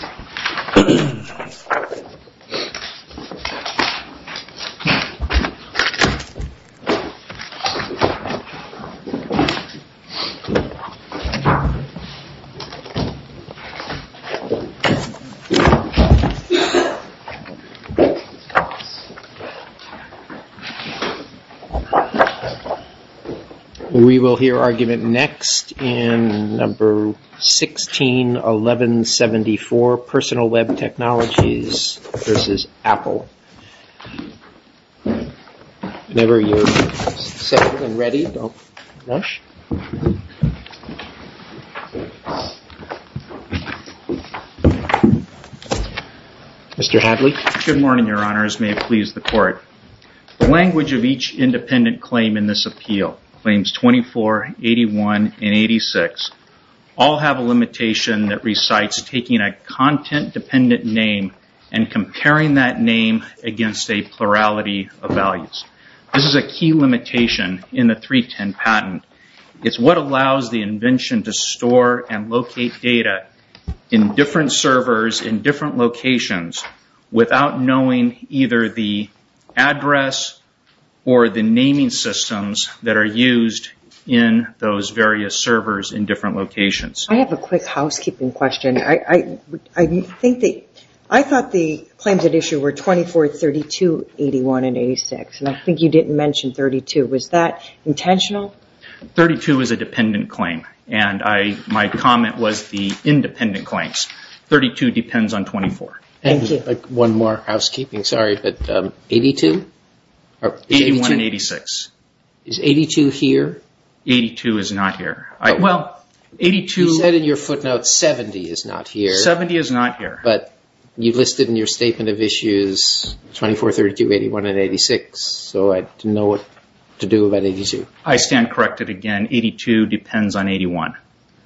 We all have a limitation that recites taking a content dependent name and comparing that name against a plurality of values. This is a key limitation in the 310 patent. It's what allows the invention to store and locate data in different servers in different locations without knowing either the address or the naming systems that are used in those various servers in different locations. I have a quick housekeeping question. I thought the claims at issue were 24, 32, 81, and 86. I think you didn't mention 32. Was that intentional? 32 is a dependent claim and my comment was the independent claims. 32 depends on 24. Thank you. One more housekeeping. Sorry, but 82? 81 and 86. Is 82 here? 82 is not here. You said in your footnote 70 is not here. 70 is not here. But you've listed in your statement of issues 24, 32, 81, and 86, so I didn't know what to do about 82. I stand corrected again. 82 depends on 81.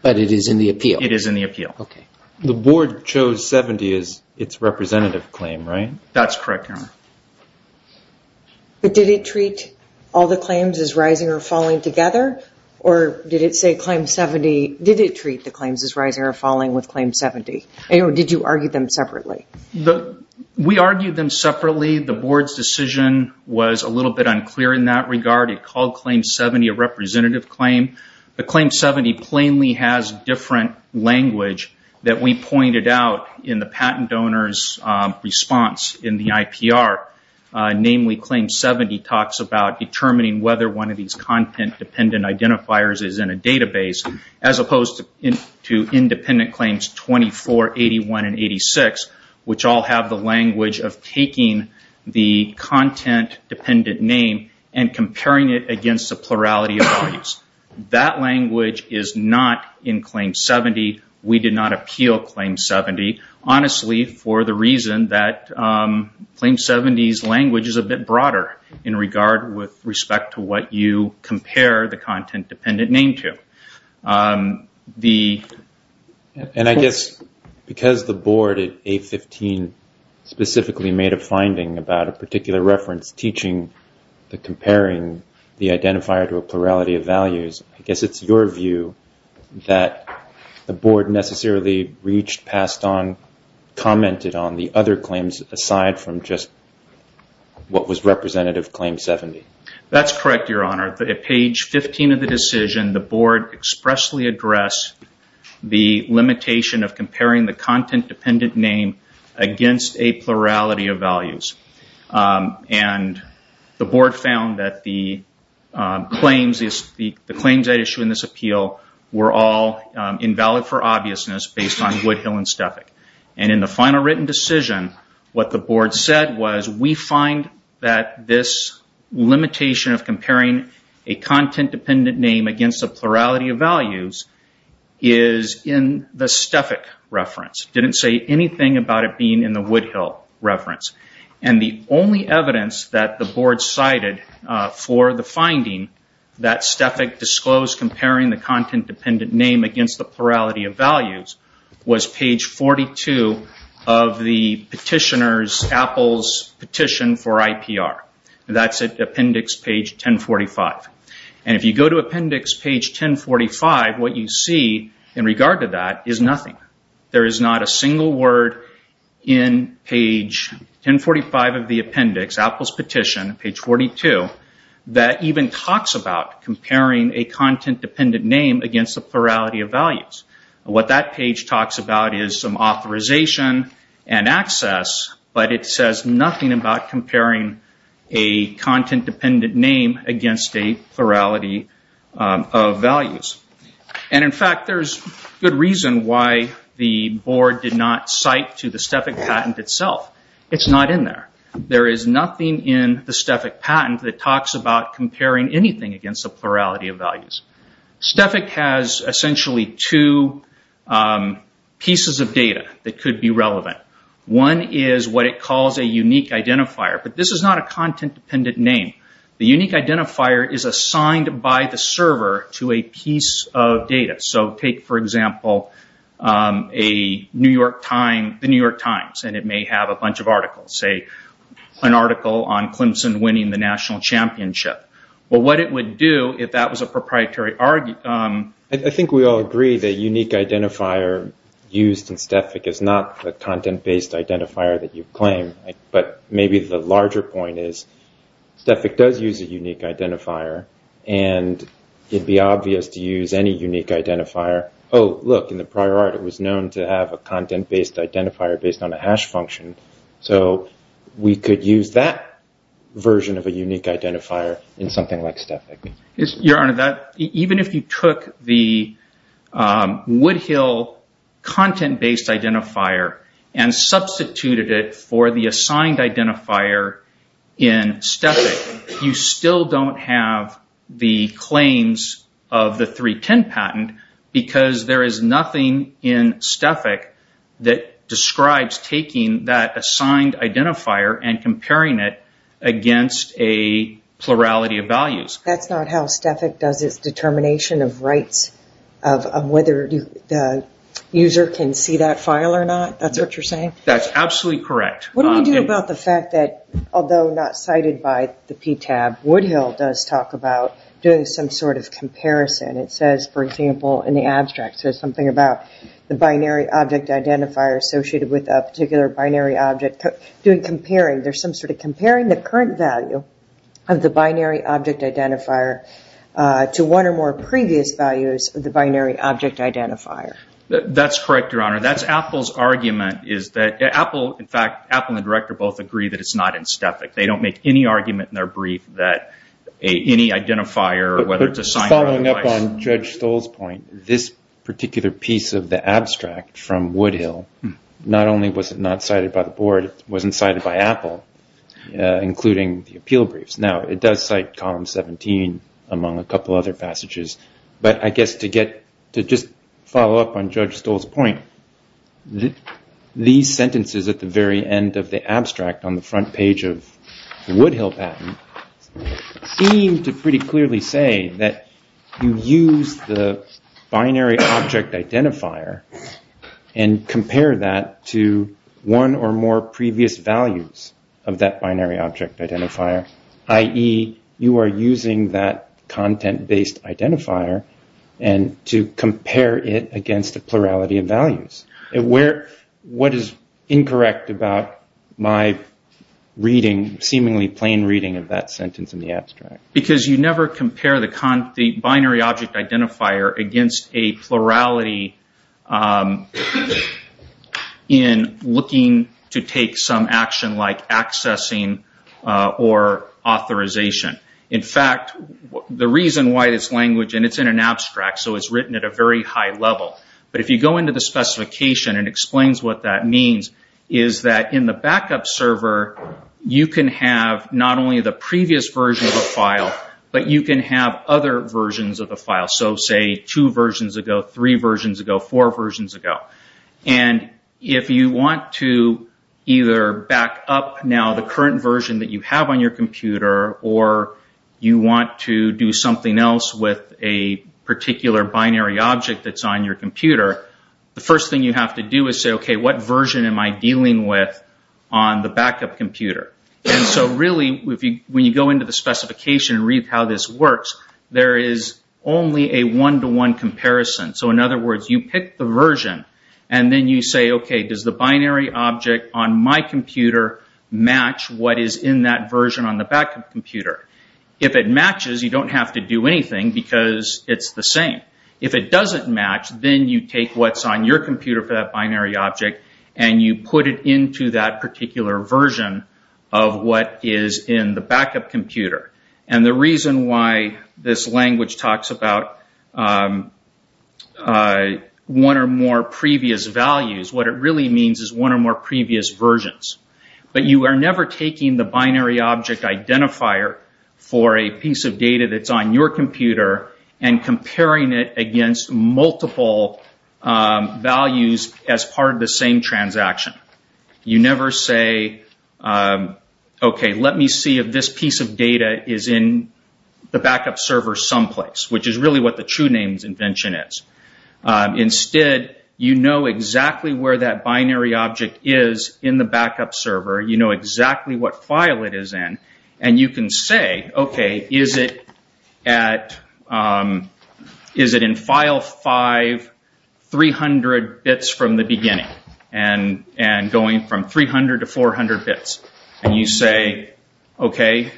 But it is in the appeal? It is in the appeal. The board chose 70 as its representative claim, right? That's correct, Your Honor. But did it treat all the claims as rising or falling together? Or did it treat the claims as rising or falling with claim 70? Did you argue them separately? We argued them separately. The board's decision was a little bit unclear in that regard. It called claim 70 a representative claim. But claim 70 plainly has different language that we pointed out in the patent donor's response in the IPR. Namely, claim 70 talks about determining whether one of these content-dependent identifiers is in a database, as opposed to independent claims 24, 81, and 86, which all have the language of taking the content-dependent name and comparing it against the plurality of values. That language is not in claim 70. We did not appeal claim 70, honestly, for the reason that claim 70's language is a bit broader in regard with respect to what you compare the content-dependent name to. The... And I guess because the board at 815 specifically made a finding about a particular reference teaching the comparing the identifier to a plurality of values, I guess it's your view that the board necessarily reached, passed on, commented on the other claims aside from just what was representative claim 70. That's correct, Your Honor. At page 15 of the decision, the board expressly addressed the limitation of comparing the content-dependent name against a plurality of values. And the board found that the claims that issue in this appeal were all invalid for obviousness based on Woodhill and Stefik. And in the final written decision, what the board said was, we find that this limitation of comparing a content-dependent name against a plurality of values is in the Stefik reference. It didn't say anything about it being in the Woodhill reference. And the only evidence that the board cited for the finding that Stefik disclosed comparing the content-dependent name against the plurality of values was page 42 of the petitioner's, Apple's petition for IPR. That's at appendix page 1045. And if you go to appendix page 1045, what you see in regard to that is nothing. There is not a single word in page 1045 of the appendix, Apple's petition, page 42, that even talks about comparing a content-dependent name against the plurality of values. What that page talks about is some authorization and access, but it says nothing about comparing a content-dependent name against a plurality of values. And in fact, there's good reason why the board did not cite to the Stefik patent itself. It's not in there. There is nothing in the Stefik patent that talks about comparing anything against the plurality of values. Stefik has essentially two pieces of data that could be relevant. One is what it calls a unique identifier, but this is not a content- based identifier. A unique identifier is assigned by the server to a piece of data. So take, for example, the New York Times, and it may have a bunch of articles, say an article on Clemson winning the national championship. But what it would do if that was a proprietary... I think we all agree the unique identifier used in Stefik is not the content-based identifier that you claim, but maybe the larger point is Stefik does use a unique identifier, and it'd be obvious to use any unique identifier. Oh, look, in the prior art, it was known to have a content-based identifier based on a hash function. So we could use that version of a unique identifier in something like Stefik. Your Honor, even if you took the Woodhill content-based identifier and substituted it for the assigned identifier in Stefik, you still don't have the claims of the 310 patent because there is nothing in Stefik that describes taking that assigned identifier and comparing it against a plurality of values. That's not how Stefik does its determination of rights, of whether the user can see that file or not. That's what you're saying? That's absolutely correct. What do we do about the fact that, although not cited by the PTAB, Woodhill does talk about doing some sort of comparison. It says, for example, in the abstract, it says something about the binary object identifier associated with a particular binary object. There's some sort of comparing the current value of the binary object identifier to one or more previous values of the binary object identifier. That's correct, Your Honor. That's Apple's argument. In fact, Apple and the director both agree that it's not in Stefik. They don't make any argument in their brief that any identifier or whether it's assigned... Following up on Judge Stoll's point, this particular piece of the abstract from Woodhill, not only was it not cited by the board, it wasn't cited by Apple, including the appeal briefs. Now, it does cite column 17, among a couple other passages, but I guess to just follow up on Judge Stoll's point, these sentences at the very end of the abstract on the front page of the Woodhill patent seem to pretty clearly say that you use the binary object identifier and compare that to one or more previous values of that binary object identifier, i.e., you are using that content-based identifier to compare it against a plurality of values. What is incorrect about my reading, seemingly plain reading of that sentence in the abstract? Because you never compare the binary object identifier against a plurality in looking to take some action like accessing or authorization. In fact, the reason why this language, and it's in an abstract, so it's written at a very high level, but if you go into the specification, it explains what that means, is that in the backup server, you can have not only the previous version of the file, but you can have other versions of the file, so say, two versions ago, three versions ago, four versions ago. If you want to either back up now the current version that you have on your computer or you want to do something else with a particular binary object that's on your computer, the first thing you have to do is say, okay, what version am I dealing with on the backup computer? Really, when you go into the specification and read how this works, there is only a one-to-one comparison. In other words, you pick the version and then you say, okay, does the binary object on my computer match what is in that version on the backup computer? If it matches, you don't have to do anything because it's the same. If it doesn't match, then you take what's on your computer for that binary object and you put it into that particular version of what is in the backup computer. The reason why this language talks about one or more previous values, what it really means is one or more previous versions, but you are never taking the binary object identifier for a piece of data that's on your computer and comparing it against multiple values as part of the same transaction. You never say, okay, let me see if this piece of data is in the backup server someplace, which is really what the TrueNames invention is. Instead, you know exactly where that binary object is in the backup server, you know exactly what file it is in, and you can say, okay, is it at, is it in file 5, 300 bits from the beginning, and going from 300 to 400 bits, and you say, okay,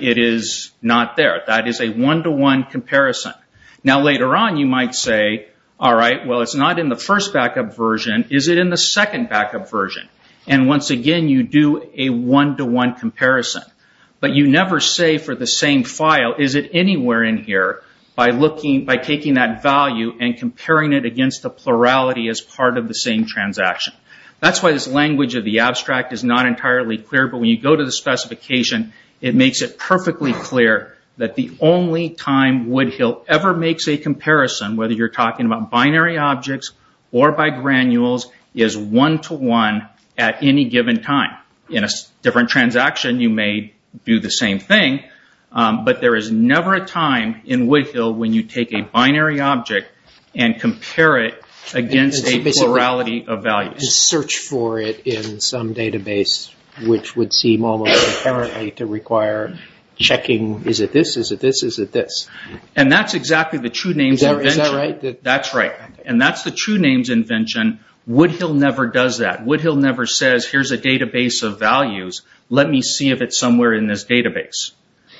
it is not there. That is a one-to-one comparison. Now, later on, you might say, all right, well, it's not in the first backup version. Is it in the second backup version? Once again, you do a one-to-one comparison, but you never say for the same file, is it anywhere in here, by taking that value and comparing it against the plurality as part of the same transaction. That's why this language of the abstract is not entirely clear, but when you go to the specification, it makes it perfectly clear that the only time Woodhill ever makes a at any given time. In a different transaction, you may do the same thing, but there is never a time in Woodhill when you take a binary object and compare it against a plurality of values. Just search for it in some database, which would seem almost inherently to require checking, is it this, is it this, is it this? And that's exactly the TrueNames invention. Is that right? That's right, and that's the TrueNames invention. Woodhill never does that. Woodhill never says, here's a database of values. Let me see if it's somewhere in this database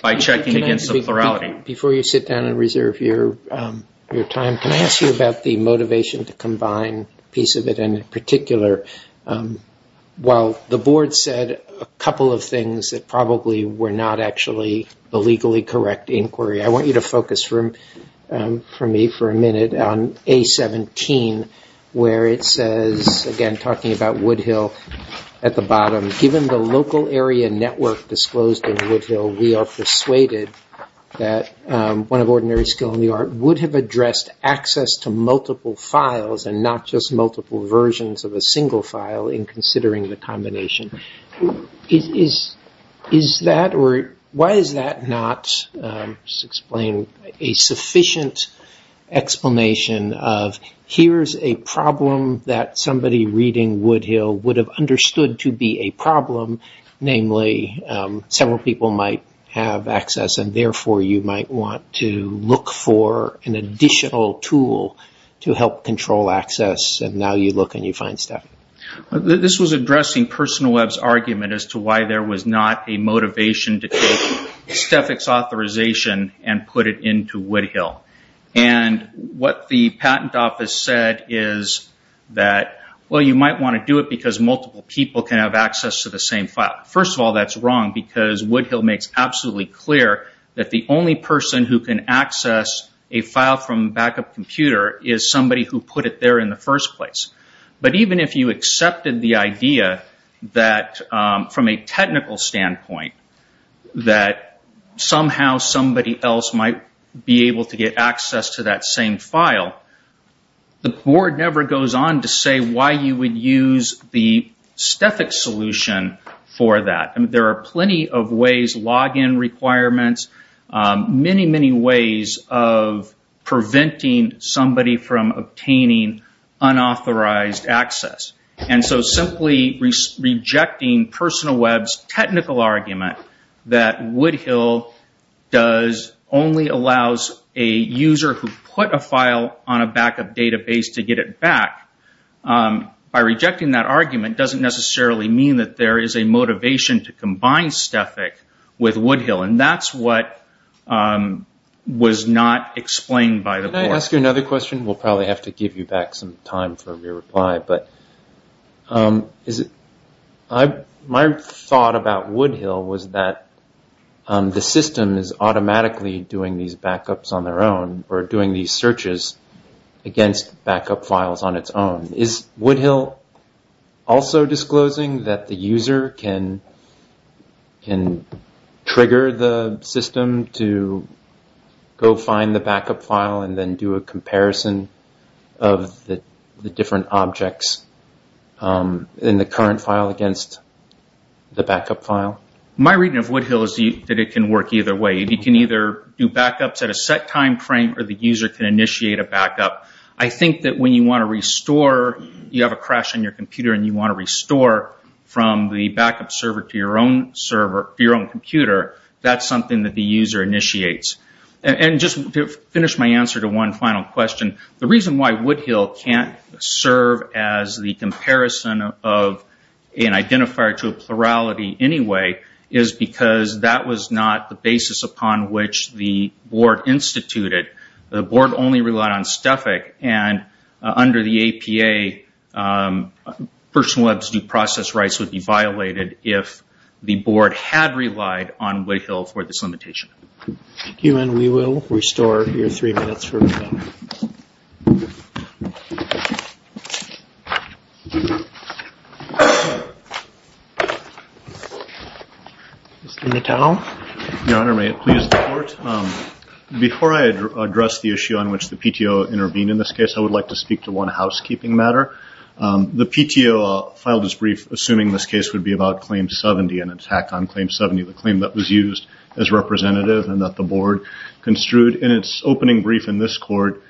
by checking against the plurality. Before you sit down and reserve your time, can I ask you about the motivation to combine a piece of it, and in particular, while the board said a couple of things that probably were not actually the legally correct inquiry, I want you to focus for me for a minute on A17, where it says, again, talking about Woodhill at the bottom, given the local area network disclosed in Woodhill, we are persuaded that one of ordinary skill in the art would have addressed access to multiple files and not just multiple versions of a single file in considering the Why is that not, just explain, a sufficient explanation of, here's a problem that somebody reading Woodhill would have understood to be a problem, namely, several people might have access and therefore you might want to look for an additional tool to help control access, and now you look and you find stuff. This was addressing Personal Web's argument as to why there was not a motivation to take stethics authorization and put it into Woodhill. What the patent office said is that, well, you might want to do it because multiple people can have access to the same file. First of all, that's wrong because Woodhill makes absolutely clear that the only person who can access a file from a backup computer is somebody who put it there in the first place. But even if you accepted the idea that, from a technical standpoint, that somehow somebody else might be able to get access to that same file, the board never goes on to say why you would use the stethics solution for that. There are plenty of ways, login requirements, many, many ways of preventing somebody from unauthorized access, and so simply rejecting Personal Web's technical argument that Woodhill does only allows a user who put a file on a backup database to get it back, by rejecting that argument doesn't necessarily mean that there is a motivation to combine stethic with Woodhill, and that's what was not explained by the board. I'm going to ask you another question. We'll probably have to give you back some time for a re-reply, but my thought about Woodhill was that the system is automatically doing these backups on their own, or doing these searches against backup files on its own. Is Woodhill also disclosing that the user can trigger the system to go find the backup file and then do a comparison of the different objects in the current file against the backup file? My reading of Woodhill is that it can work either way. You can either do backups at a set time frame, or the user can initiate a backup. I think that when you want to restore, you have a crash on your computer and you want to restore from the backup server to your own server, your own computer, that's something that the user initiates. Just to finish my answer to one final question, the reason why Woodhill can't serve as the comparison of an identifier to a plurality anyway is because that was not the basis upon which the board instituted. The board only relied on stethic, and under the APA, personal web's due process rights would be violated if the board had relied on Woodhill for this limitation. QM, we will restore your three minutes for rebuttal. Mr. Nuttall? Your Honor, may it please the Court? Before I address the issue on which the PTO intervened in this case, I would like to speak to one housekeeping matter. The PTO filed this brief assuming this case would be about Claim 70 and attack on Claim 70, the claim that was used as representative and that the board construed in its opening brief in this Court.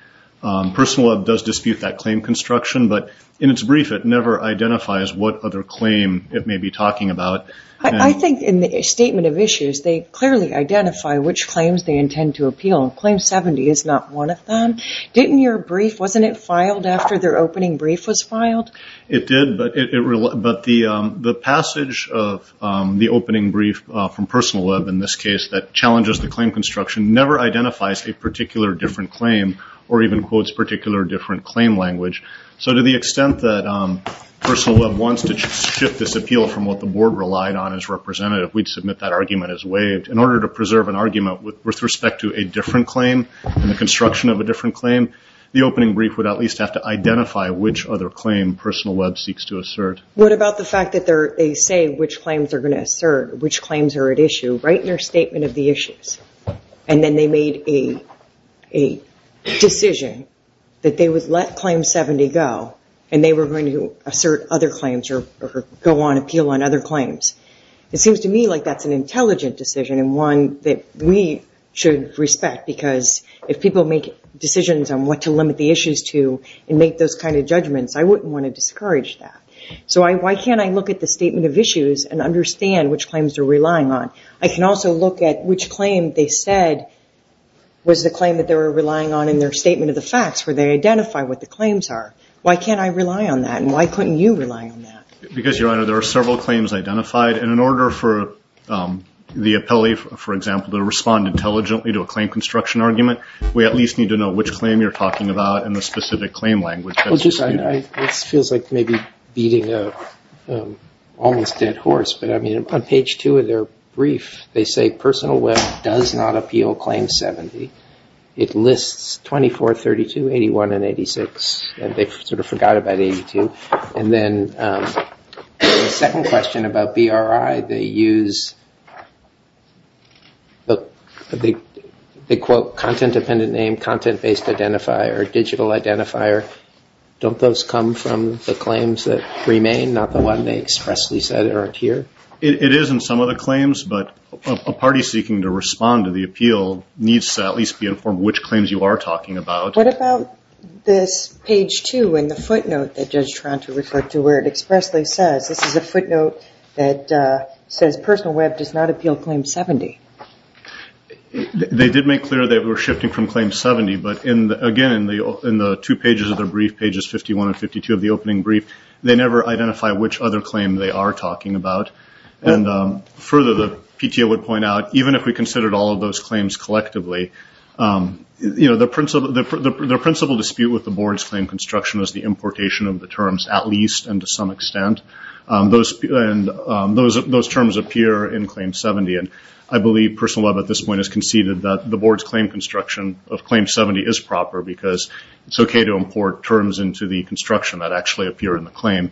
Personal web does dispute that claim construction, but in its brief, it never identifies what other claim it may be talking about. I think in the statement of issues, they clearly identify which claims they intend to appeal. Claim 70 is not one of them. Didn't your brief, wasn't it filed after their opening brief was filed? It did, but the passage of the opening brief from personal web in this case that challenges the claim construction never identifies a particular different claim or even quotes particular different claim language. To the extent that personal web wants to shift this appeal from what the board relied on as representative, we would submit that argument as waived. In order to preserve an argument with respect to a different claim and the construction of a different claim, the opening brief would at least have to identify which other claim personal web seeks to assert. What about the fact that they say which claims are going to assert, which claims are at issue right in their statement of the issues and then they made a decision that they would let Claim 70 go and they were going to assert other claims or go on appeal on other claims. It seems to me like that's an intelligent decision and one that we should respect because if people make decisions on what to limit the issues to and make those kind of judgments, I wouldn't want to discourage that. So, why can't I look at the statement of issues and understand which claims they're relying on? I can also look at which claim they said was the claim that they were relying on in their statement of the facts where they identify what the claims are. Why can't I rely on that and why couldn't you rely on that? Because, Your Honor, there are several claims identified and in order for the appellee, for example, to respond intelligently to a claim construction argument, we at least need to know which claim you're talking about and the specific claim language. This feels like maybe beating an almost dead horse, but I mean on page two of their brief, they say personal web does not appeal Claim 70. It lists 24, 32, 81, and 86 and they sort of forgot about 82. And then the second question about BRI, they use, they quote content-dependent name, content-based identifier, digital identifier. Don't those come from the claims that remain, not the one they expressly said aren't here? It is in some of the claims, but a party seeking to respond to the appeal needs to at least be informed which claims you are talking about. What about this page two in the footnote that Judge Toronto referred to where it expressly says, this is a footnote that says personal web does not appeal Claim 70. They did make clear that we're shifting from Claim 70, but again, in the two pages of their brief, pages 51 and 52 of the opening brief, they never identify which other claim they are talking about. And further, the PTO would point out, even if we considered all of those claims collectively, the principal dispute with the board's claim construction is the importation of the terms, at least and to some extent. Those terms appear in Claim 70. And I believe personal web at this point has conceded that the board's claim construction of Claim 70 is proper because it's okay to import terms into the construction that actually appear in the claim.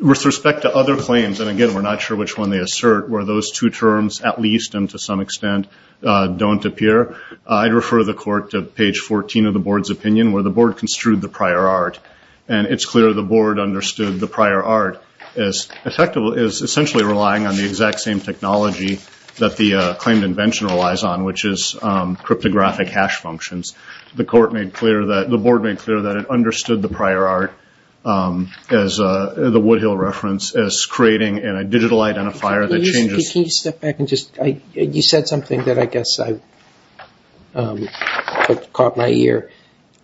With respect to other claims, and again, we're not sure which one they assert, where those two terms, at least and to some extent, don't appear, I'd refer the court to page 14 of the board's opinion where the board construed the prior art. And it's clear the board understood the prior art is essentially relying on the exact same technology that the claimed invention relies on, which is cryptographic hash functions. The court made clear that, the board made clear that it understood the prior art, as the Woodhill reference, as creating a digital identifier that changes. Can you step back and just, you said something that I guess caught my ear.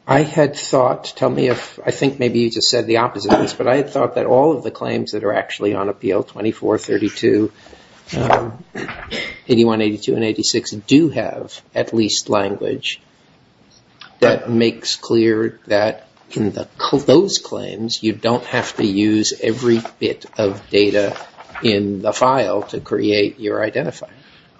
I had thought, tell me if, I think maybe you just said the opposite of this, but I had thought that all of the claims that are actually on appeal, 24, 32, 81, 82, and 86, do have at least language that makes clear that in those claims, you don't have to use every bit of data in the file to create your identifier.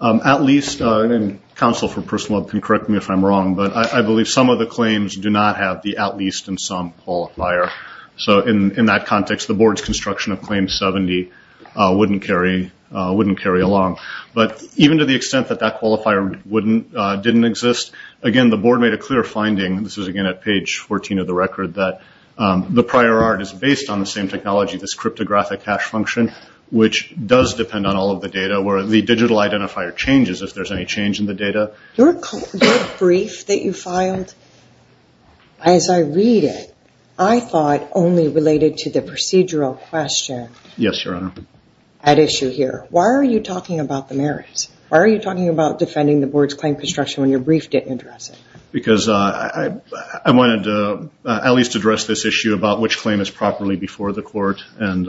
At least, and counsel for personal web can correct me if I'm wrong, but I believe some of the claims do not have the at least and some qualifier. So in that context, the board's construction of claim 70 wouldn't carry along. But even to the extent that that qualifier didn't exist, again, the board made a clear finding, this is again at page 14 of the record, that the prior art is based on the same technology, this cryptographic hash function, which does depend on all of the data where the digital identifier changes if there's any change in the data. Your brief that you filed, as I read it, I thought only related to the procedural question. Yes, Your Honor. At issue here. Why are you talking about the merits? Why are you talking about defending the board's claim construction when your brief didn't address it? Because I wanted to at least address this issue about which claim is properly before the court. And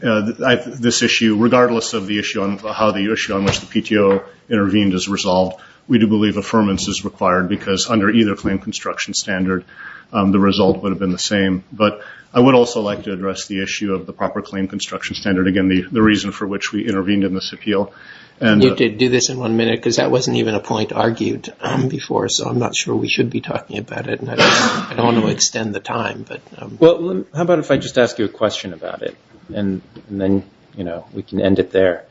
this issue, regardless of how the issue on which the PTO intervened is resolved, we do believe affirmance is required because under either claim construction standard, the result would have been the same. But I would also like to address the issue of the proper claim construction standard. Again, the reason for which we intervened in this appeal. And you did do this in one minute because that wasn't even a point argued before. So I'm not sure we should be talking about it. And I don't want to extend the time. Well, how about if I just ask you a question about it? And then we can end it there.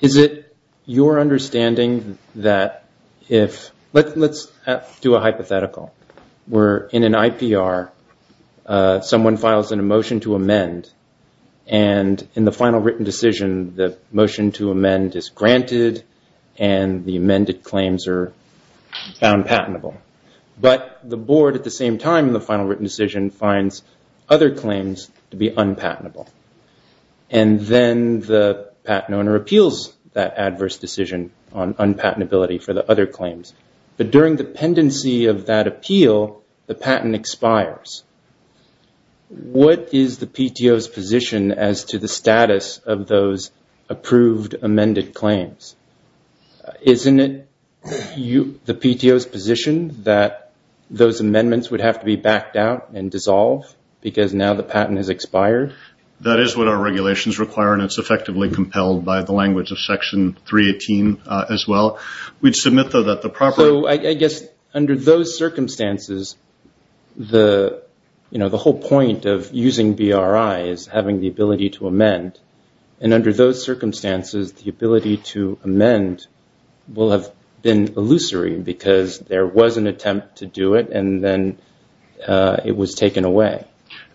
Is it your understanding that if, let's do a hypothetical. Where in an IPR, someone files in a motion to amend. And in the final written decision, the motion to amend is granted. And the amended claims are found patentable. But the board at the same time in the final written decision finds other claims to be unpatentable. And then the patent owner appeals that adverse decision on unpatentability for the other claims. But during the pendency of that appeal, the patent expires. What is the PTO's position as to the status of those approved amended claims? Isn't it the PTO's position that those amendments would have to be backed out and dissolve? Because now the patent has expired? That is what our regulations require. And it's effectively compelled by the language of Section 318 as well. We'd submit, though, that the proper- So I guess under those circumstances, the whole point of using BRI is having the ability to amend. And under those circumstances, the ability to amend will have been illusory because there was an attempt to do it. And then it was taken away.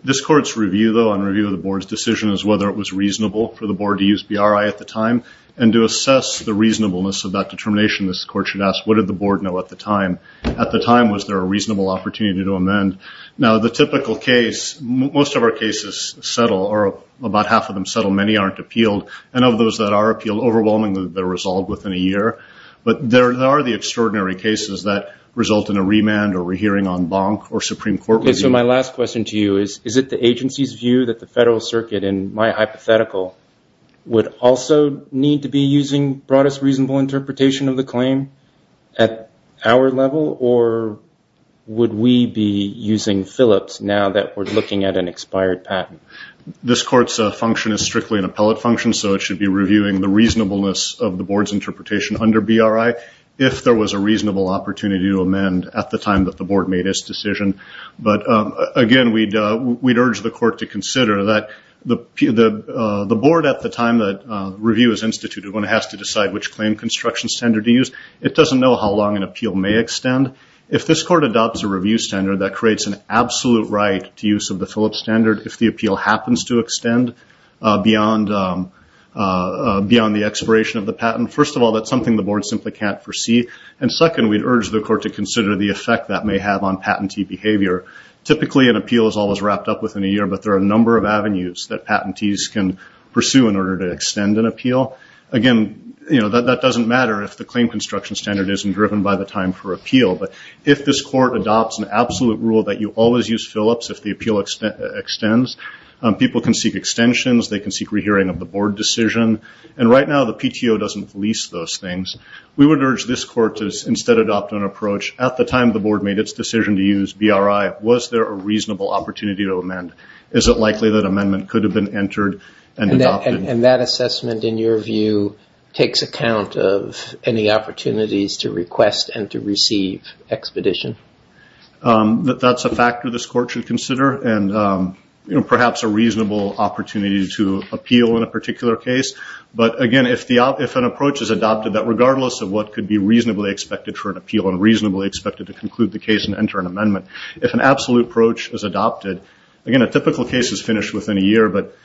This Court's review, though, on review of the board's decision is whether it was reasonable for the board to use BRI at the time. And to assess the reasonableness of that determination, this Court should ask, what did the board know at the time? At the time, was there a reasonable opportunity to amend? Now, the typical case, most of our cases settle or about half of them settle. Many aren't appealed. And of those that are appealed, overwhelmingly, they're resolved within a year. But there are the extraordinary cases that result in a remand or a hearing on bonk or Supreme Court review. So my last question to you is, is it the agency's view that the Federal Circuit, in my hypothetical, would also need to be using broadest reasonable interpretation of the Phillips now that we're looking at an expired patent? This Court's function is strictly an appellate function. So it should be reviewing the reasonableness of the board's interpretation under BRI if there was a reasonable opportunity to amend at the time that the board made its decision. But again, we'd urge the Court to consider that the board at the time that review is instituted when it has to decide which claim construction standard to use, it doesn't know how long an appeal may extend. If this Court adopts a review standard that creates an absolute right to use of the Phillips standard if the appeal happens to extend beyond the expiration of the patent, first of all, that's something the board simply can't foresee. And second, we'd urge the Court to consider the effect that may have on patentee behavior. Typically, an appeal is always wrapped up within a year. But there are a number of avenues that patentees can pursue in order to extend an appeal. Again, that doesn't matter if the claim construction standard isn't driven by the time for appeal. If this Court adopts an absolute rule that you always use Phillips if the appeal extends, people can seek extensions. They can seek re-hearing of the board decision. And right now, the PTO doesn't release those things. We would urge this Court to instead adopt an approach, at the time the board made its decision to use BRI, was there a reasonable opportunity to amend? Is it likely that amendment could have been entered and adopted? And that assessment, in your view, takes account of any opportunities to request and to receive expedition? That's a factor this Court should consider. And perhaps a reasonable opportunity to appeal in a particular case. But again, if an approach is adopted that regardless of what could be reasonably expected for an appeal and reasonably expected to conclude the case and enter an amendment, if an absolute approach is adopted, again, a typical case is finished within a year. But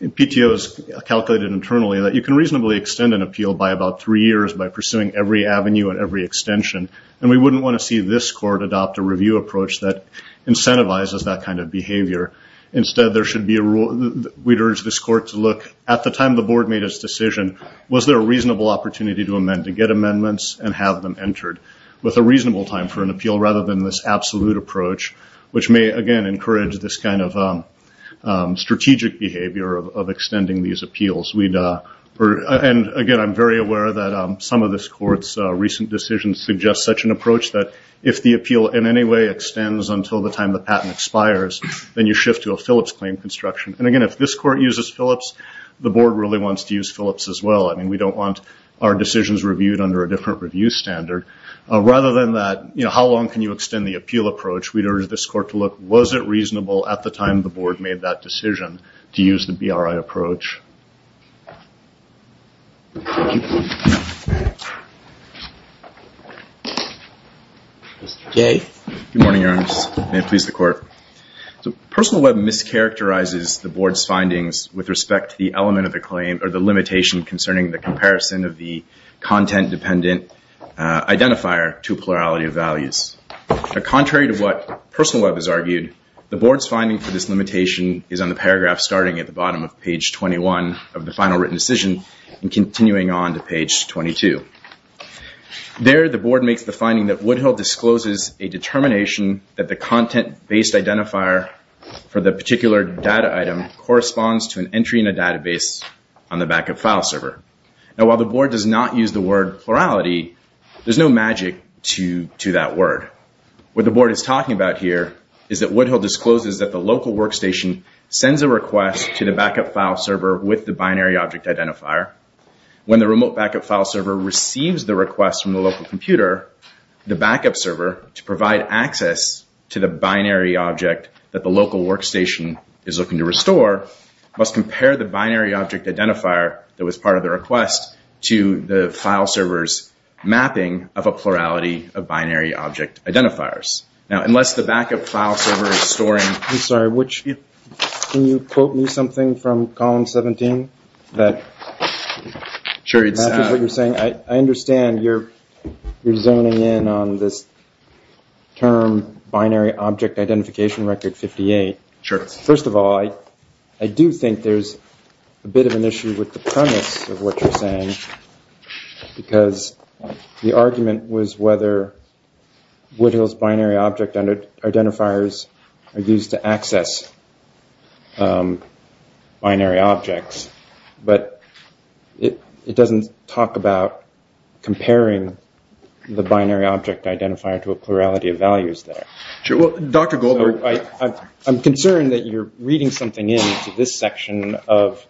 PTO has calculated internally that you can reasonably extend an appeal by about three years by pursuing every avenue and every extension. And we wouldn't want to see this Court adopt a review approach that incentivizes that kind of behavior. Instead, we'd urge this Court to look, at the time the board made its decision, was there a reasonable opportunity to amend? To get amendments and have them entered with a reasonable time for an appeal rather than this absolute approach, which may, again, encourage this kind of strategic behavior of extending these appeals. And again, I'm very aware that some of this Court's recent decisions suggest such an approach that if the appeal in any way extends until the time the patent expires, then you shift to a Phillips claim construction. And again, if this Court uses Phillips, the board really wants to use Phillips as well. I mean, we don't want our decisions reviewed under a different review standard. Rather than that, how long can you extend the appeal approach, we'd urge this Court to look, was it reasonable at the time the board made that decision to use the BRI approach? Mr. Jay. Good morning, Your Honors. May it please the Court. Personal Web mischaracterizes the board's findings with respect to the element of the claim or the limitation concerning the comparison of the content-dependent identifier to plurality of values. Contrary to what Personal Web has argued, the board's finding for this limitation is paragraph starting at the bottom of page 21 of the final written decision and continuing on to page 22. There, the board makes the finding that Woodhill discloses a determination that the content-based identifier for the particular data item corresponds to an entry in a database on the backup file server. Now, while the board does not use the word plurality, there's no magic to that word. What the board is talking about here is that Woodhill discloses that the local workstation sends a request to the backup file server with the binary object identifier. When the remote backup file server receives the request from the local computer, the backup server, to provide access to the binary object that the local workstation is looking to restore, must compare the binary object identifier that was part of the request to the file server's mapping of a plurality of binary object identifiers. Now, unless the backup file server is storing... I'm sorry, which... Can you quote me something from column 17 that... Sure, it's... ...matches what you're saying? I understand you're zoning in on this term, binary object identification record 58. Sure. First of all, I do think there's a bit of an issue with the premise of what you're saying, because the argument was whether Woodhill's binary object identifiers are used to access binary objects, but it doesn't talk about comparing the binary object identifier to a plurality of values there. Sure, well, Dr. Goldberg... So, I'm concerned that you're reading something in to this section of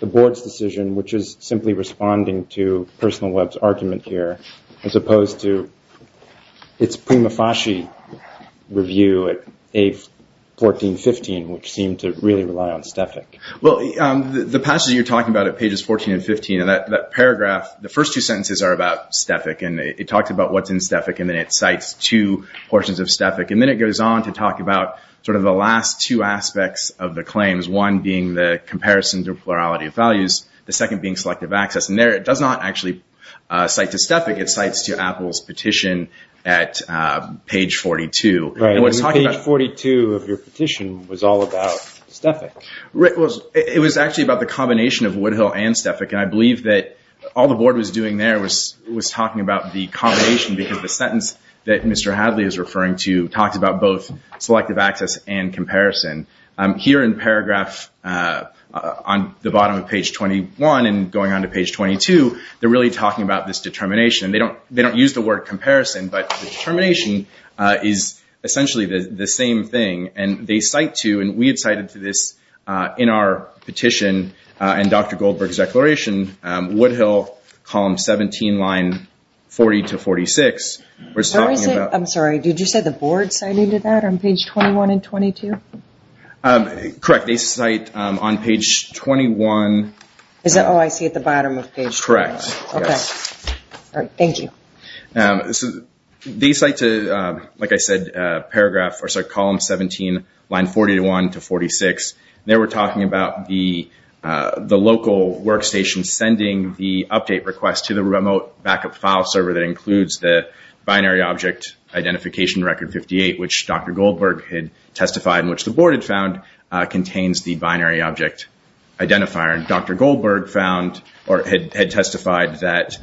the board's decision, which is simply responding to Personal Web's argument here, as opposed to its Prima Fasci review at page 14, 15, which seemed to really rely on Stefik. Well, the passage you're talking about at pages 14 and 15, and that paragraph, the first two sentences are about Stefik, and it talks about what's in Stefik, and then it cites two portions of Stefik, and then it goes on to talk about sort of the last two aspects of the claims, one being the comparison to plurality of values, the second being selective access, and there it does not actually cite to Stefik, it cites to Apple's petition at page 42. Right, and page 42 of your petition was all about Stefik. It was actually about the combination of Woodhill and Stefik, and I believe that all the board was doing there was talking about the combination, because the sentence that Mr. Hadley is referring to talks about both selective access and comparison. Here in paragraph, on the bottom of page 21, and going on to page 22, they're really talking about this determination. They don't use the word comparison, but the determination is essentially the same thing, and they cite to, and we had cited to this in our petition, and Dr. Goldberg's declaration, Woodhill, column 17, line 40 to 46, was talking about- I'm sorry, did you say the board cited to that on page 21 and 22? Correct, they cite on page 21- Is that all I see at the bottom of page 21? Correct, yes. All right, thank you. They cite to, like I said, column 17, line 41 to 46. They were talking about the local workstation sending the update request to the remote backup file server that includes the binary object identification record 58, which Dr. Goldberg had testified, and which the board had found contains the binary object identifier. Dr. Goldberg had testified that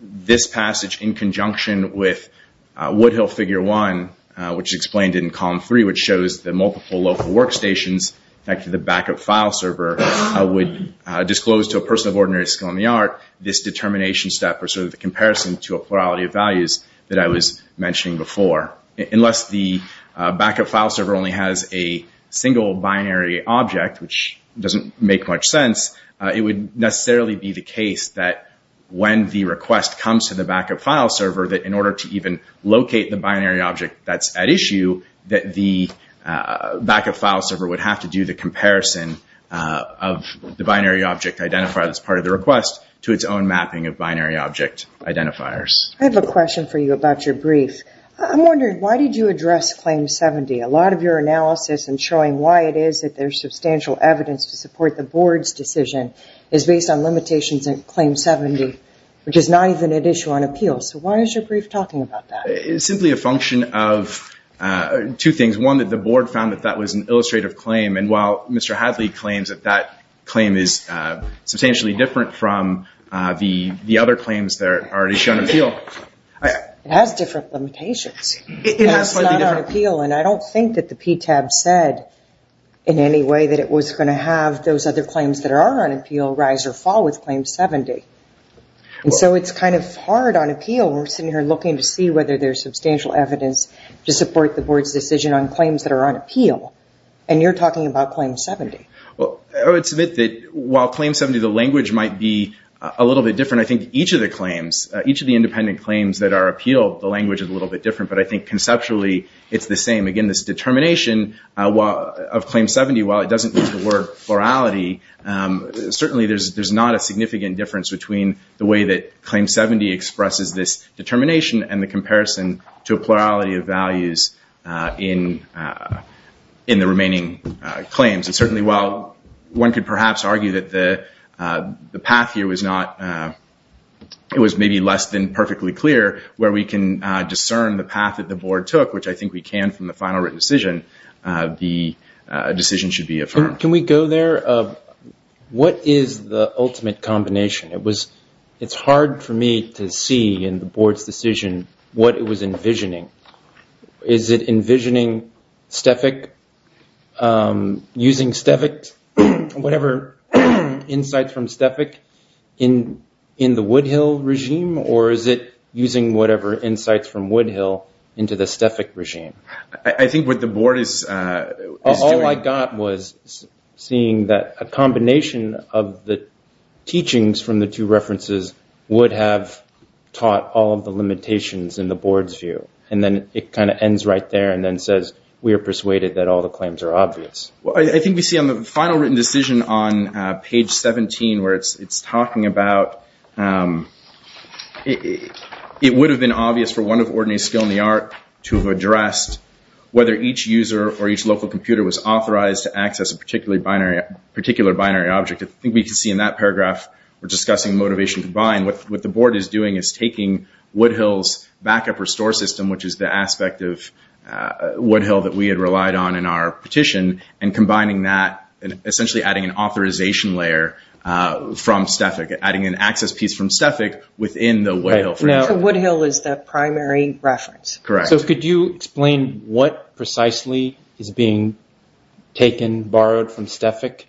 this passage in conjunction with Woodhill figure one, which is explained in column three, which shows the multiple local workstations, in fact, the backup file server, would disclose to a person of ordinary skill in the art, this determination step, or the comparison to a plurality of values that I was mentioning before. Unless the backup file server only has a single binary object, which doesn't make much sense, it would necessarily be the case that when the request comes to the backup file server, that in order to even locate the binary object that's at issue, that the backup file server would have to do the comparison of the binary object identifier that's part of the request to its own mapping of binary object identifiers. I have a question for you about your brief. I'm wondering, why did you address claim 70? A lot of your analysis in showing why it is that there's substantial evidence to support the board's decision is based on limitations in claim 70, which is not even at issue on appeal. So why is your brief talking about that? It's simply a function of two things. One, that the board found that that was an illustrative claim. And while Mr. Hadley claims that that claim is substantially different from the other claims that are at issue on appeal. It has different limitations. It's not on appeal. And I don't think that the PTAB said in any way that it was going to have those other claims that are on appeal rise or fall with claim 70. And so it's kind of hard on appeal. We're sitting here looking to see whether there's substantial evidence to support the board's decision on claims that are on appeal. And you're talking about claim 70. Well, I would submit that while claim 70, the language might be a little bit different, each of the claims, each of the independent claims that are appealed, the language is a little bit different. But I think conceptually, it's the same. Again, this determination of claim 70, while it doesn't use the word plurality, certainly there's not a significant difference between the way that claim 70 expresses this determination and the comparison to a plurality of values in the remaining claims. Certainly, while one could perhaps argue that the path here was maybe less than perfectly clear where we can discern the path that the board took, which I think we can from the final written decision, the decision should be affirmed. Can we go there? What is the ultimate combination? It's hard for me to see in the board's decision what it was envisioning. Is it envisioning STEFIC, using whatever insights from STEFIC in the Woodhill regime? Or is it using whatever insights from Woodhill into the STEFIC regime? I think what the board is doing- All I got was seeing that a combination of the teachings from the two references would have taught all of the limitations in the board's view. And then it kind of ends right there and then says, we are persuaded that all the claims are obvious. Well, I think we see on the final written decision on page 17, where it's talking about it would have been obvious for one of ordinary skill in the art to have addressed whether each user or each local computer was authorized to access a particular binary object. I think we can see in that paragraph, we're discussing motivation combined. What the board is doing is taking Woodhill's backup restore system, which is the aspect of Woodhill that we had relied on in our petition, and combining that and essentially adding an authorization layer from STEFIC, adding an access piece from STEFIC within the Woodhill framework. Woodhill is the primary reference. Correct. Could you explain what precisely is being taken, borrowed from STEFIC,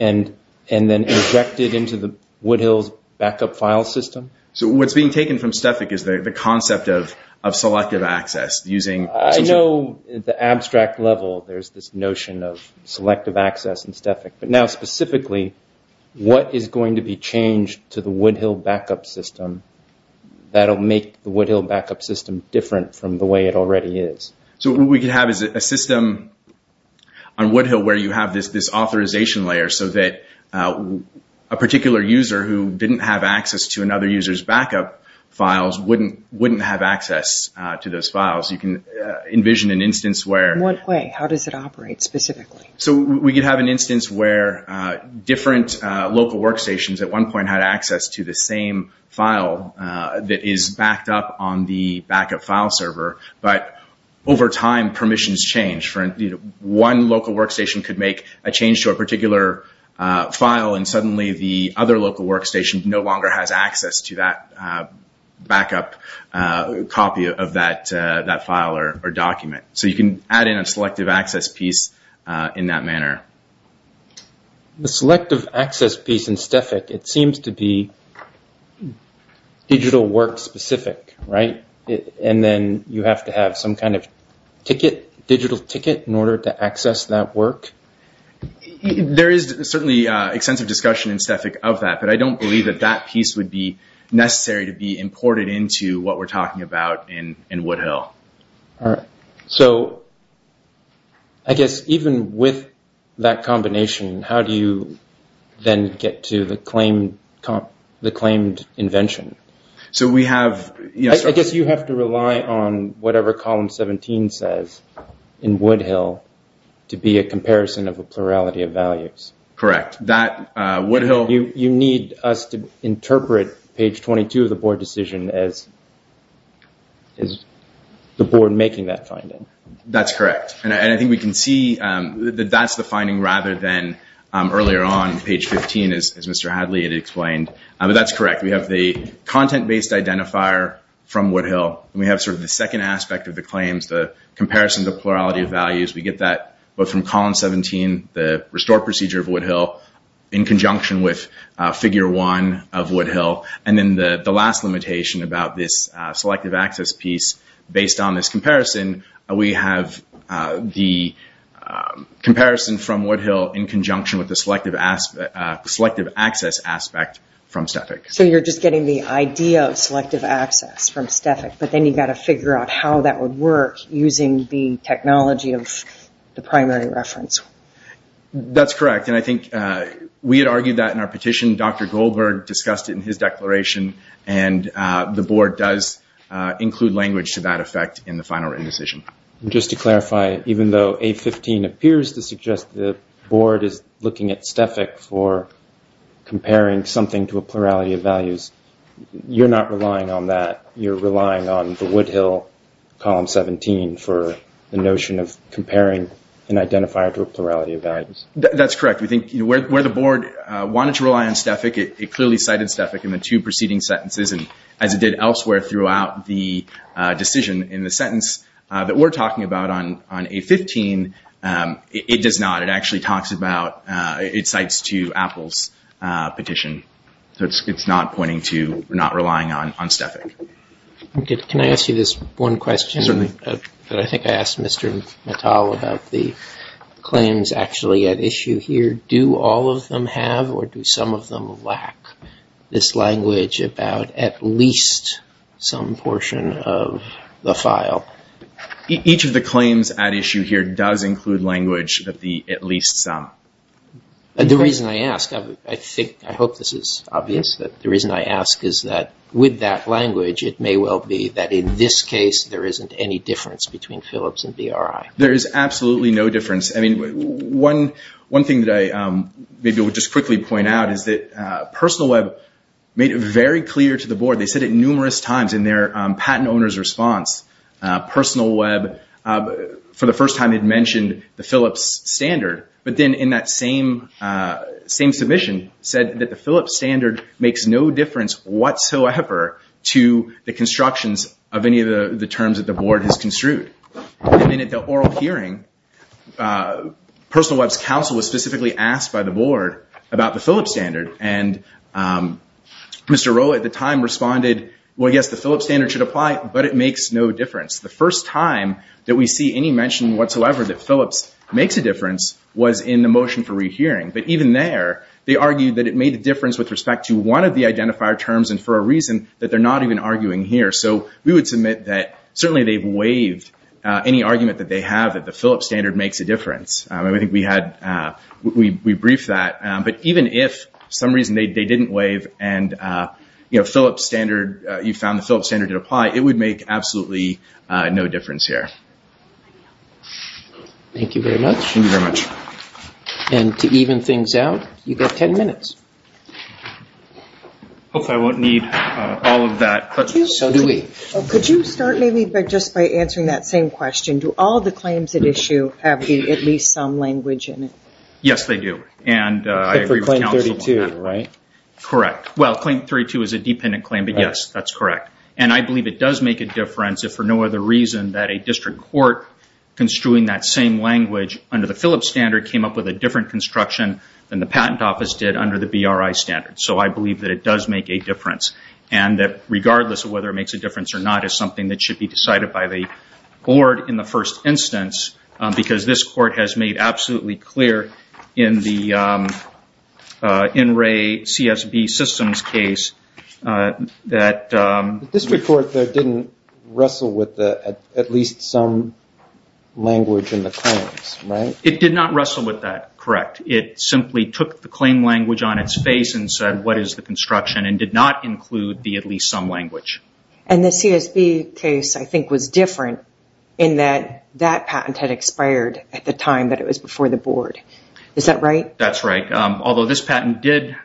and then injected into the Woodhill's backup file system? What's being taken from STEFIC is the concept of selective access using- I know the abstract level, there's this notion of selective access in STEFIC. But now specifically, what is going to be changed to the Woodhill backup system that'll make the Woodhill backup system different from the way it already is? What we could have is a system on Woodhill where you have this authorization layer so that a particular user who didn't have access to another user's backup files wouldn't have access to those files. You can envision an instance where- One way. How does it operate specifically? We could have an instance where different local workstations at one point had access to the same file that is backed up on the backup file server. But over time, permissions change. One local workstation could make a change to a particular file and suddenly the other local workstation no longer has access to that backup copy of that file or document. So you can add in a selective access piece in that manner. The selective access piece in STEFIC, it seems to be digital work specific, right? And then you have to have some kind of ticket, digital ticket, in order to access that work? There is certainly extensive discussion in STEFIC of that, but I don't believe that that piece would be necessary to be imported into what we're talking about in Woodhill. All right. So I guess even with that combination, how do you then get to the claimed invention? So we have- I guess you have to rely on whatever column 17 says in Woodhill to be a comparison of a plurality of values. Correct. Woodhill- You need us to interpret page 22 of the board decision as the board making that finding. That's correct. And I think we can see that that's the finding rather than earlier on, page 15, as Mr. Hadley had explained. But that's correct. We have the content-based identifier from Woodhill and we have sort of the second aspect of the claims, the comparison of the plurality of values. We get that from column 17, the restore procedure of Woodhill, in conjunction with figure one of Woodhill. And then the last limitation about this selective access piece, based on this comparison, we have the comparison from Woodhill in conjunction with the selective access aspect from STEFIC. So you're just getting the idea of selective access from STEFIC, but then you've got to the primary reference. That's correct. And I think we had argued that in our petition. Dr. Goldberg discussed it in his declaration. And the board does include language to that effect in the final written decision. Just to clarify, even though 815 appears to suggest that the board is looking at STEFIC for comparing something to a plurality of values, you're not relying on that. You're relying on the Woodhill column 17 for the notion of comparing an identifier to a plurality of values. That's correct. We think where the board wanted to rely on STEFIC, it clearly cited STEFIC in the two preceding sentences, as it did elsewhere throughout the decision. In the sentence that we're talking about on 815, it does not. It actually talks about, it cites to Apple's petition. So it's not pointing to not relying on STEFIC. Can I ask you this one question? Certainly. That I think I asked Mr. Mattal about the claims actually at issue here. Do all of them have or do some of them lack this language about at least some portion of the file? Each of the claims at issue here does include language that the at least some. The reason I ask, I think, I hope this is obvious, that the reason I ask is that with that language, it may well be that in this case, there isn't any difference between Philips and BRI. There is absolutely no difference. One thing that I maybe would just quickly point out is that Personal Web made it very clear to the board. They said it numerous times in their patent owner's response. Personal Web, for the first time, had mentioned the Philips standard. But then in that same submission said that the Philips standard makes no difference whatsoever to the constructions of any of the terms that the board has construed. And then at the oral hearing, Personal Web's counsel was specifically asked by the board about the Philips standard. And Mr. Rowley at the time responded, well, yes, the Philips standard should apply, but it makes no difference. The first time that we see any mention whatsoever that Philips makes a difference was in the motion for rehearing. But even there, they argued that it made a difference with respect to one of the identifier terms and for a reason that they're not even arguing here. So we would submit that certainly they've waived any argument that they have that the Philips standard makes a difference. I think we briefed that. But even if for some reason they didn't waive and you found the Philips standard did apply, it would make absolutely no difference here. Thank you very much. And to even things out, you've got 10 minutes. Hopefully, I won't need all of that. Could you start maybe just by answering that same question? Do all the claims at issue have at least some language in it? Yes, they do. And I agree with counsel on that. But for claim 32, right? Correct. Well, claim 32 is a dependent claim, but yes, that's correct. And I believe it does make a difference if for no other reason that a district court construing that same language under the Philips standard came up with a different construction than the patent office did under the BRI standard. So I believe that it does make a difference. And that regardless of whether it makes a difference or not is something that should be decided by the board in the first instance, because this court has made absolutely clear in the In Re CSB systems case that... District court didn't wrestle with at least some language in the claims, right? It did not wrestle with that. Correct. It simply took the claim language on its face and said what is the construction and did not include the at least some language. And the CSB case I think was different in that that patent had expired at the time that it was before the board. Is that right? That's right. Although this patent did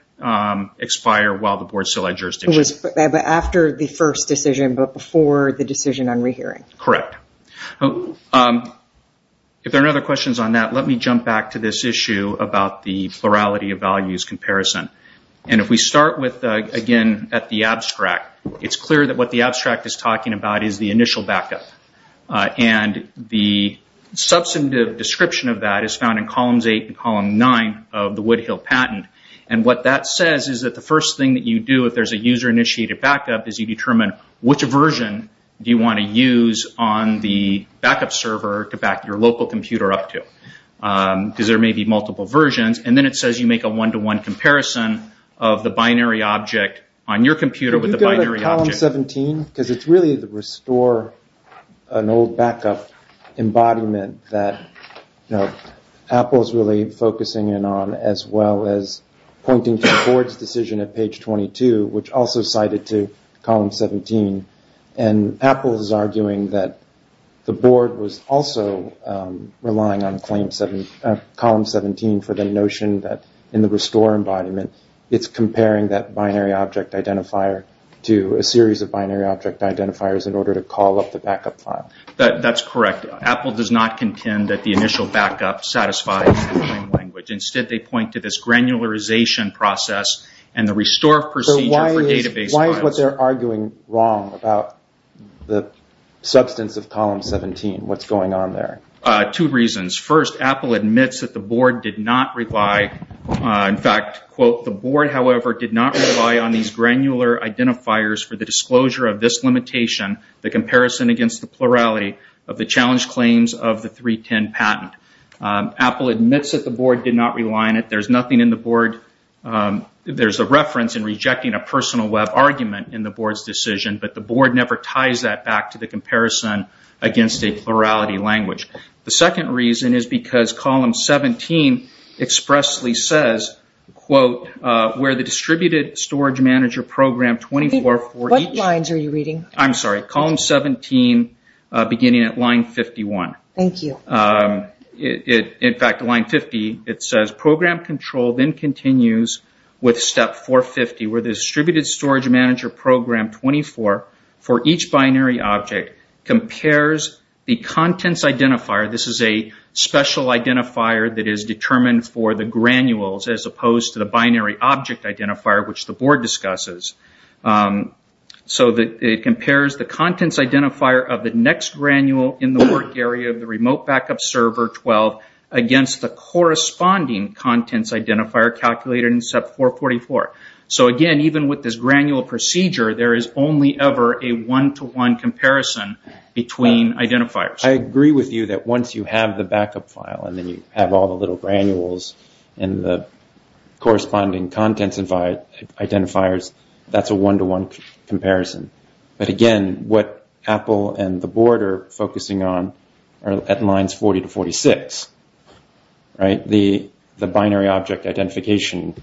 expire while the board still had jurisdiction. It was after the first decision, but before the decision on rehearing. Correct. Okay. If there are other questions on that, let me jump back to this issue about the plurality of values comparison. And if we start with again at the abstract, it's clear that what the abstract is talking about is the initial backup. And the substantive description of that is found in columns eight and column nine of the Woodhill patent. And what that says is that the first thing that you do if there's a user initiated backup is you determine which version do you want to use on the backup server to back your local computer up to. Because there may be multiple versions. And then it says you make a one-to-one comparison of the binary object on your computer with the binary object. Can you go to column 17? Because it's really the restore an old backup embodiment that Apple is really focusing in as well as pointing to the board's decision at page 22, which also cited to column 17. And Apple is arguing that the board was also relying on column 17 for the notion that in the restore embodiment, it's comparing that binary object identifier to a series of binary object identifiers in order to call up the backup file. That's correct. Apple does not contend that the initial backup satisfies the claim language. Instead, they point to this granularization process and the restore procedure for database files. So why is what they're arguing wrong about the substance of column 17? What's going on there? Two reasons. First, Apple admits that the board did not rely. In fact, quote, the board, however, did not rely on these granular identifiers for the disclosure of this limitation, the comparison against the plurality of the challenge claims of the 310 patent. Apple admits that the board did not rely on it. There's nothing in the board. There's a reference in rejecting a personal web argument in the board's decision, but the board never ties that back to the comparison against a plurality language. The second reason is because column 17 expressly says, quote, where the distributed storage manager program 24 for each. What lines are you reading? I'm sorry. Column 17 beginning at line 51. Thank you. In fact, line 50, it says program control then continues with step 450 where the distributed storage manager program 24 for each binary object compares the contents identifier. This is a special identifier that is determined for the granules as opposed to the binary object identifier, which the board discusses. So it compares the contents identifier of the next granule in the work area of the remote backup server 12 against the corresponding contents identifier calculated in step 444. So again, even with this granule procedure, there is only ever a one-to-one comparison between identifiers. I agree with you that once you have the backup file and then you have all the little granules and the corresponding contents identifiers, that's a one-to-one comparison. But again, what Apple and the board are focusing on are at lines 40 to 46, right? The binary object identification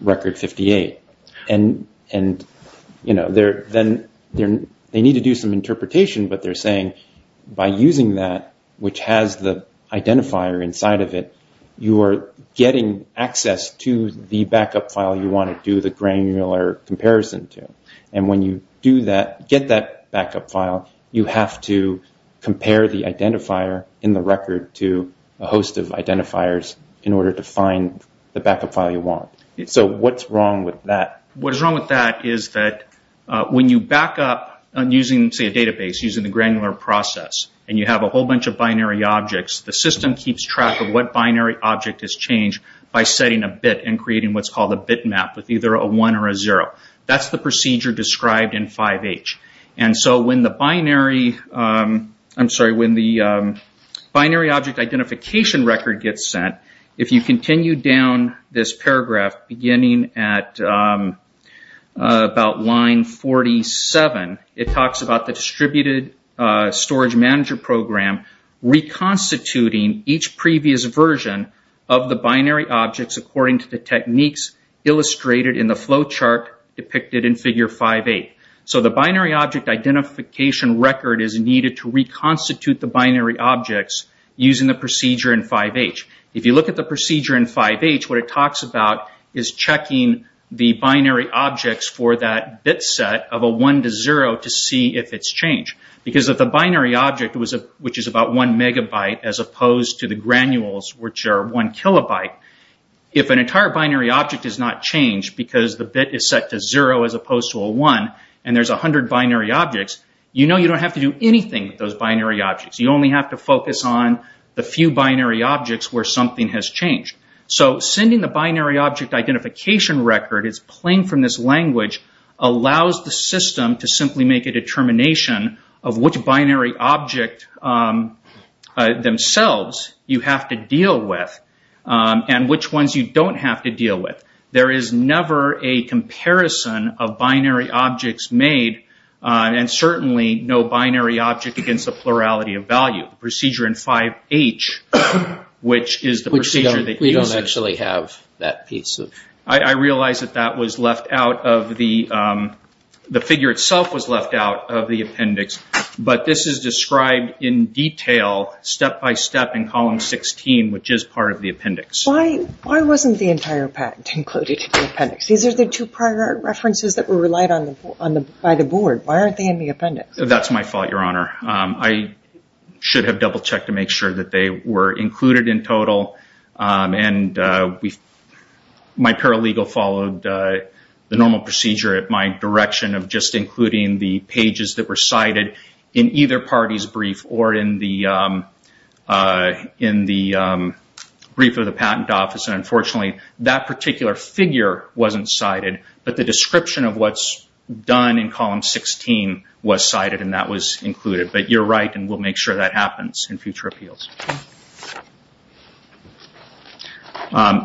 record 58. And, you know, they need to do some interpretation, but they're saying by using that, which has the identifier inside of it, you are getting access to the backup file you want to do the granular comparison to. And when you do that, get that backup file, you have to compare the identifier in the record to a host of identifiers in order to find the backup file you want. So what's wrong with that? What is wrong with that is that when you backup using, say, a database, using the granular process, and you have a whole bunch of binary objects, the system keeps track of what binary object has changed by setting a bit and creating what's called a bitmap with either a one or a zero. That's the procedure described in 5H. And so when the binary, I'm sorry, when the binary object identification record gets sent, if you continue down this paragraph beginning at about line 47, it talks about the distributed storage manager program reconstituting each previous version of the binary objects according to the techniques illustrated in the flow chart depicted in figure 5A. So the binary object identification record is needed to reconstitute the binary objects using the procedure in 5H. If you look at the procedure in 5H, what it talks about is checking the binary objects for that bit set of a one to zero to see if it's changed. Because if the binary object, which is about one megabyte, as opposed to the granules, which are one kilobyte, if an entire binary object is not changed because the bit is set to zero as opposed to a one, and there's a hundred binary objects, you know you don't have to do anything with those binary objects. You only have to focus on the few binary objects where something has changed. So sending the binary object identification record, it's playing from this language, allows the system to simply make a determination of which binary object themselves you have to deal with, and which ones you don't have to deal with. There is never a comparison of binary objects made, and certainly no binary object against the plurality of value. Procedure in 5H, which is the procedure that uses- We don't actually have that piece of- I realize that that was left out of the, the figure itself was left out of the appendix, but this is described in detail step-by-step in column 16, which is part of the appendix. Why wasn't the entire patent included in the appendix? These are the two prior references that were relied on by the board. Why aren't they in the appendix? That's my fault, Your Honor. I should have double-checked to make sure that they were included in total, and my paralegal followed the normal procedure at my direction of just including the pages that were cited in either party's brief or in the brief of the patent office. Unfortunately, that particular figure wasn't cited, but the description of what's done in column 16 was cited, and that was included. But you're right, and we'll make sure that happens in future appeals.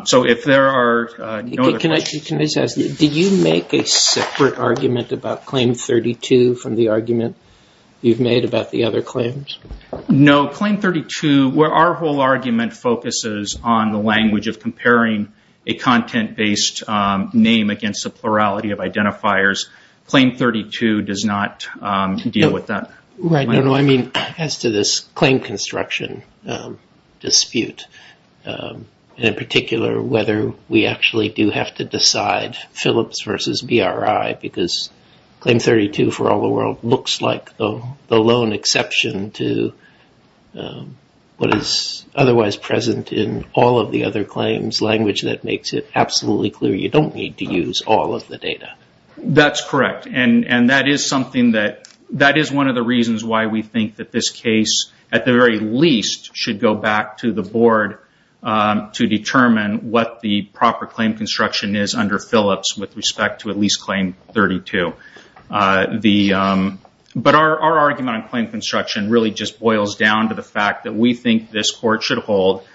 So, if there are no other questions- Can I just ask, did you make a separate argument about Claim 32 from the argument you've made about the other claims? No. Claim 32, where our whole argument focuses on the language of comparing a content-based name against the plurality of identifiers, Claim 32 does not deal with that. Right. No, no. I mean, as to this claim construction dispute, and in particular, whether we actually do have to decide Phillips versus BRI, because Claim 32, for all the world, looks like the lone exception to what is otherwise present in all of the other claims, language that makes it absolutely clear you don't need to use all of the data. That's correct, and that is something that... We think that this case, at the very least, should go back to the Board to determine what the proper claim construction is under Phillips with respect to at least Claim 32. But our argument on claim construction really just boils down to the fact that we think this Court should hold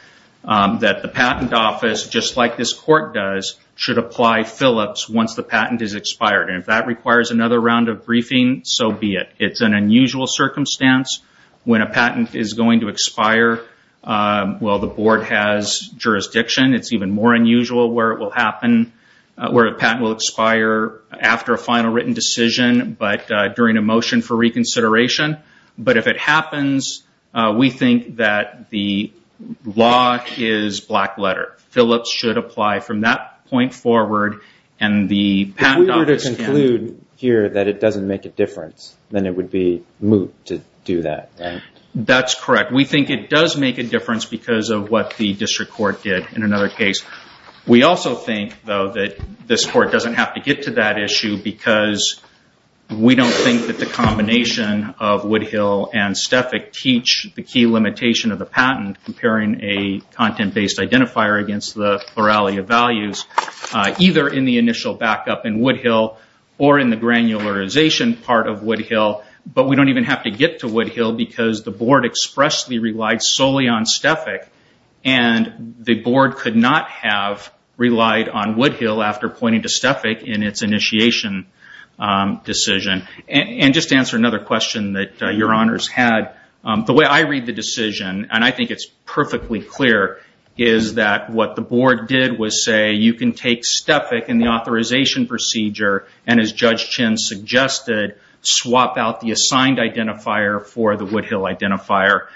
that the Patent Office, just like this Court does, should apply Phillips once the patent is expired, and if that requires another round of briefing, so be it. It's an unusual circumstance when a patent is going to expire while the Board has jurisdiction. It's even more unusual where it will happen, where a patent will expire after a final written decision, but during a motion for reconsideration. But if it happens, we think that the law is black letter. Phillips should apply from that point forward, and the Patent Office can... It would be moot to do that, right? That's correct. We think it does make a difference because of what the District Court did in another case. We also think, though, that this Court doesn't have to get to that issue because we don't think that the combination of Woodhill and Stefik teach the key limitation of the patent, comparing a content-based identifier against the plurality of values, either in the initial backup in Woodhill or in the granularization part of Woodhill. But we don't even have to get to Woodhill because the Board expressly relied solely on Stefik, and the Board could not have relied on Woodhill after pointing to Stefik in its initiation decision. Just to answer another question that Your Honors had, the way I read the decision, and I think it's perfectly clear, is that what the Board did was say, you can take Stefik in the authorization procedure, and as Judge Chin suggested, swap out the assigned identifier for the Woodhill identifier.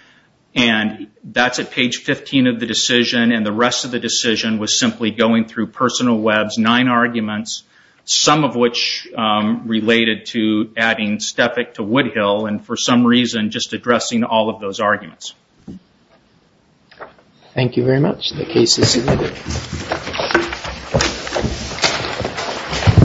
That's at page 15 of the decision, and the rest of the decision was simply going through personal webs, nine arguments, some of which related to adding Stefik to Woodhill, and for some reason just addressing all of those arguments. Thank you very much. The case is submitted. Thank you.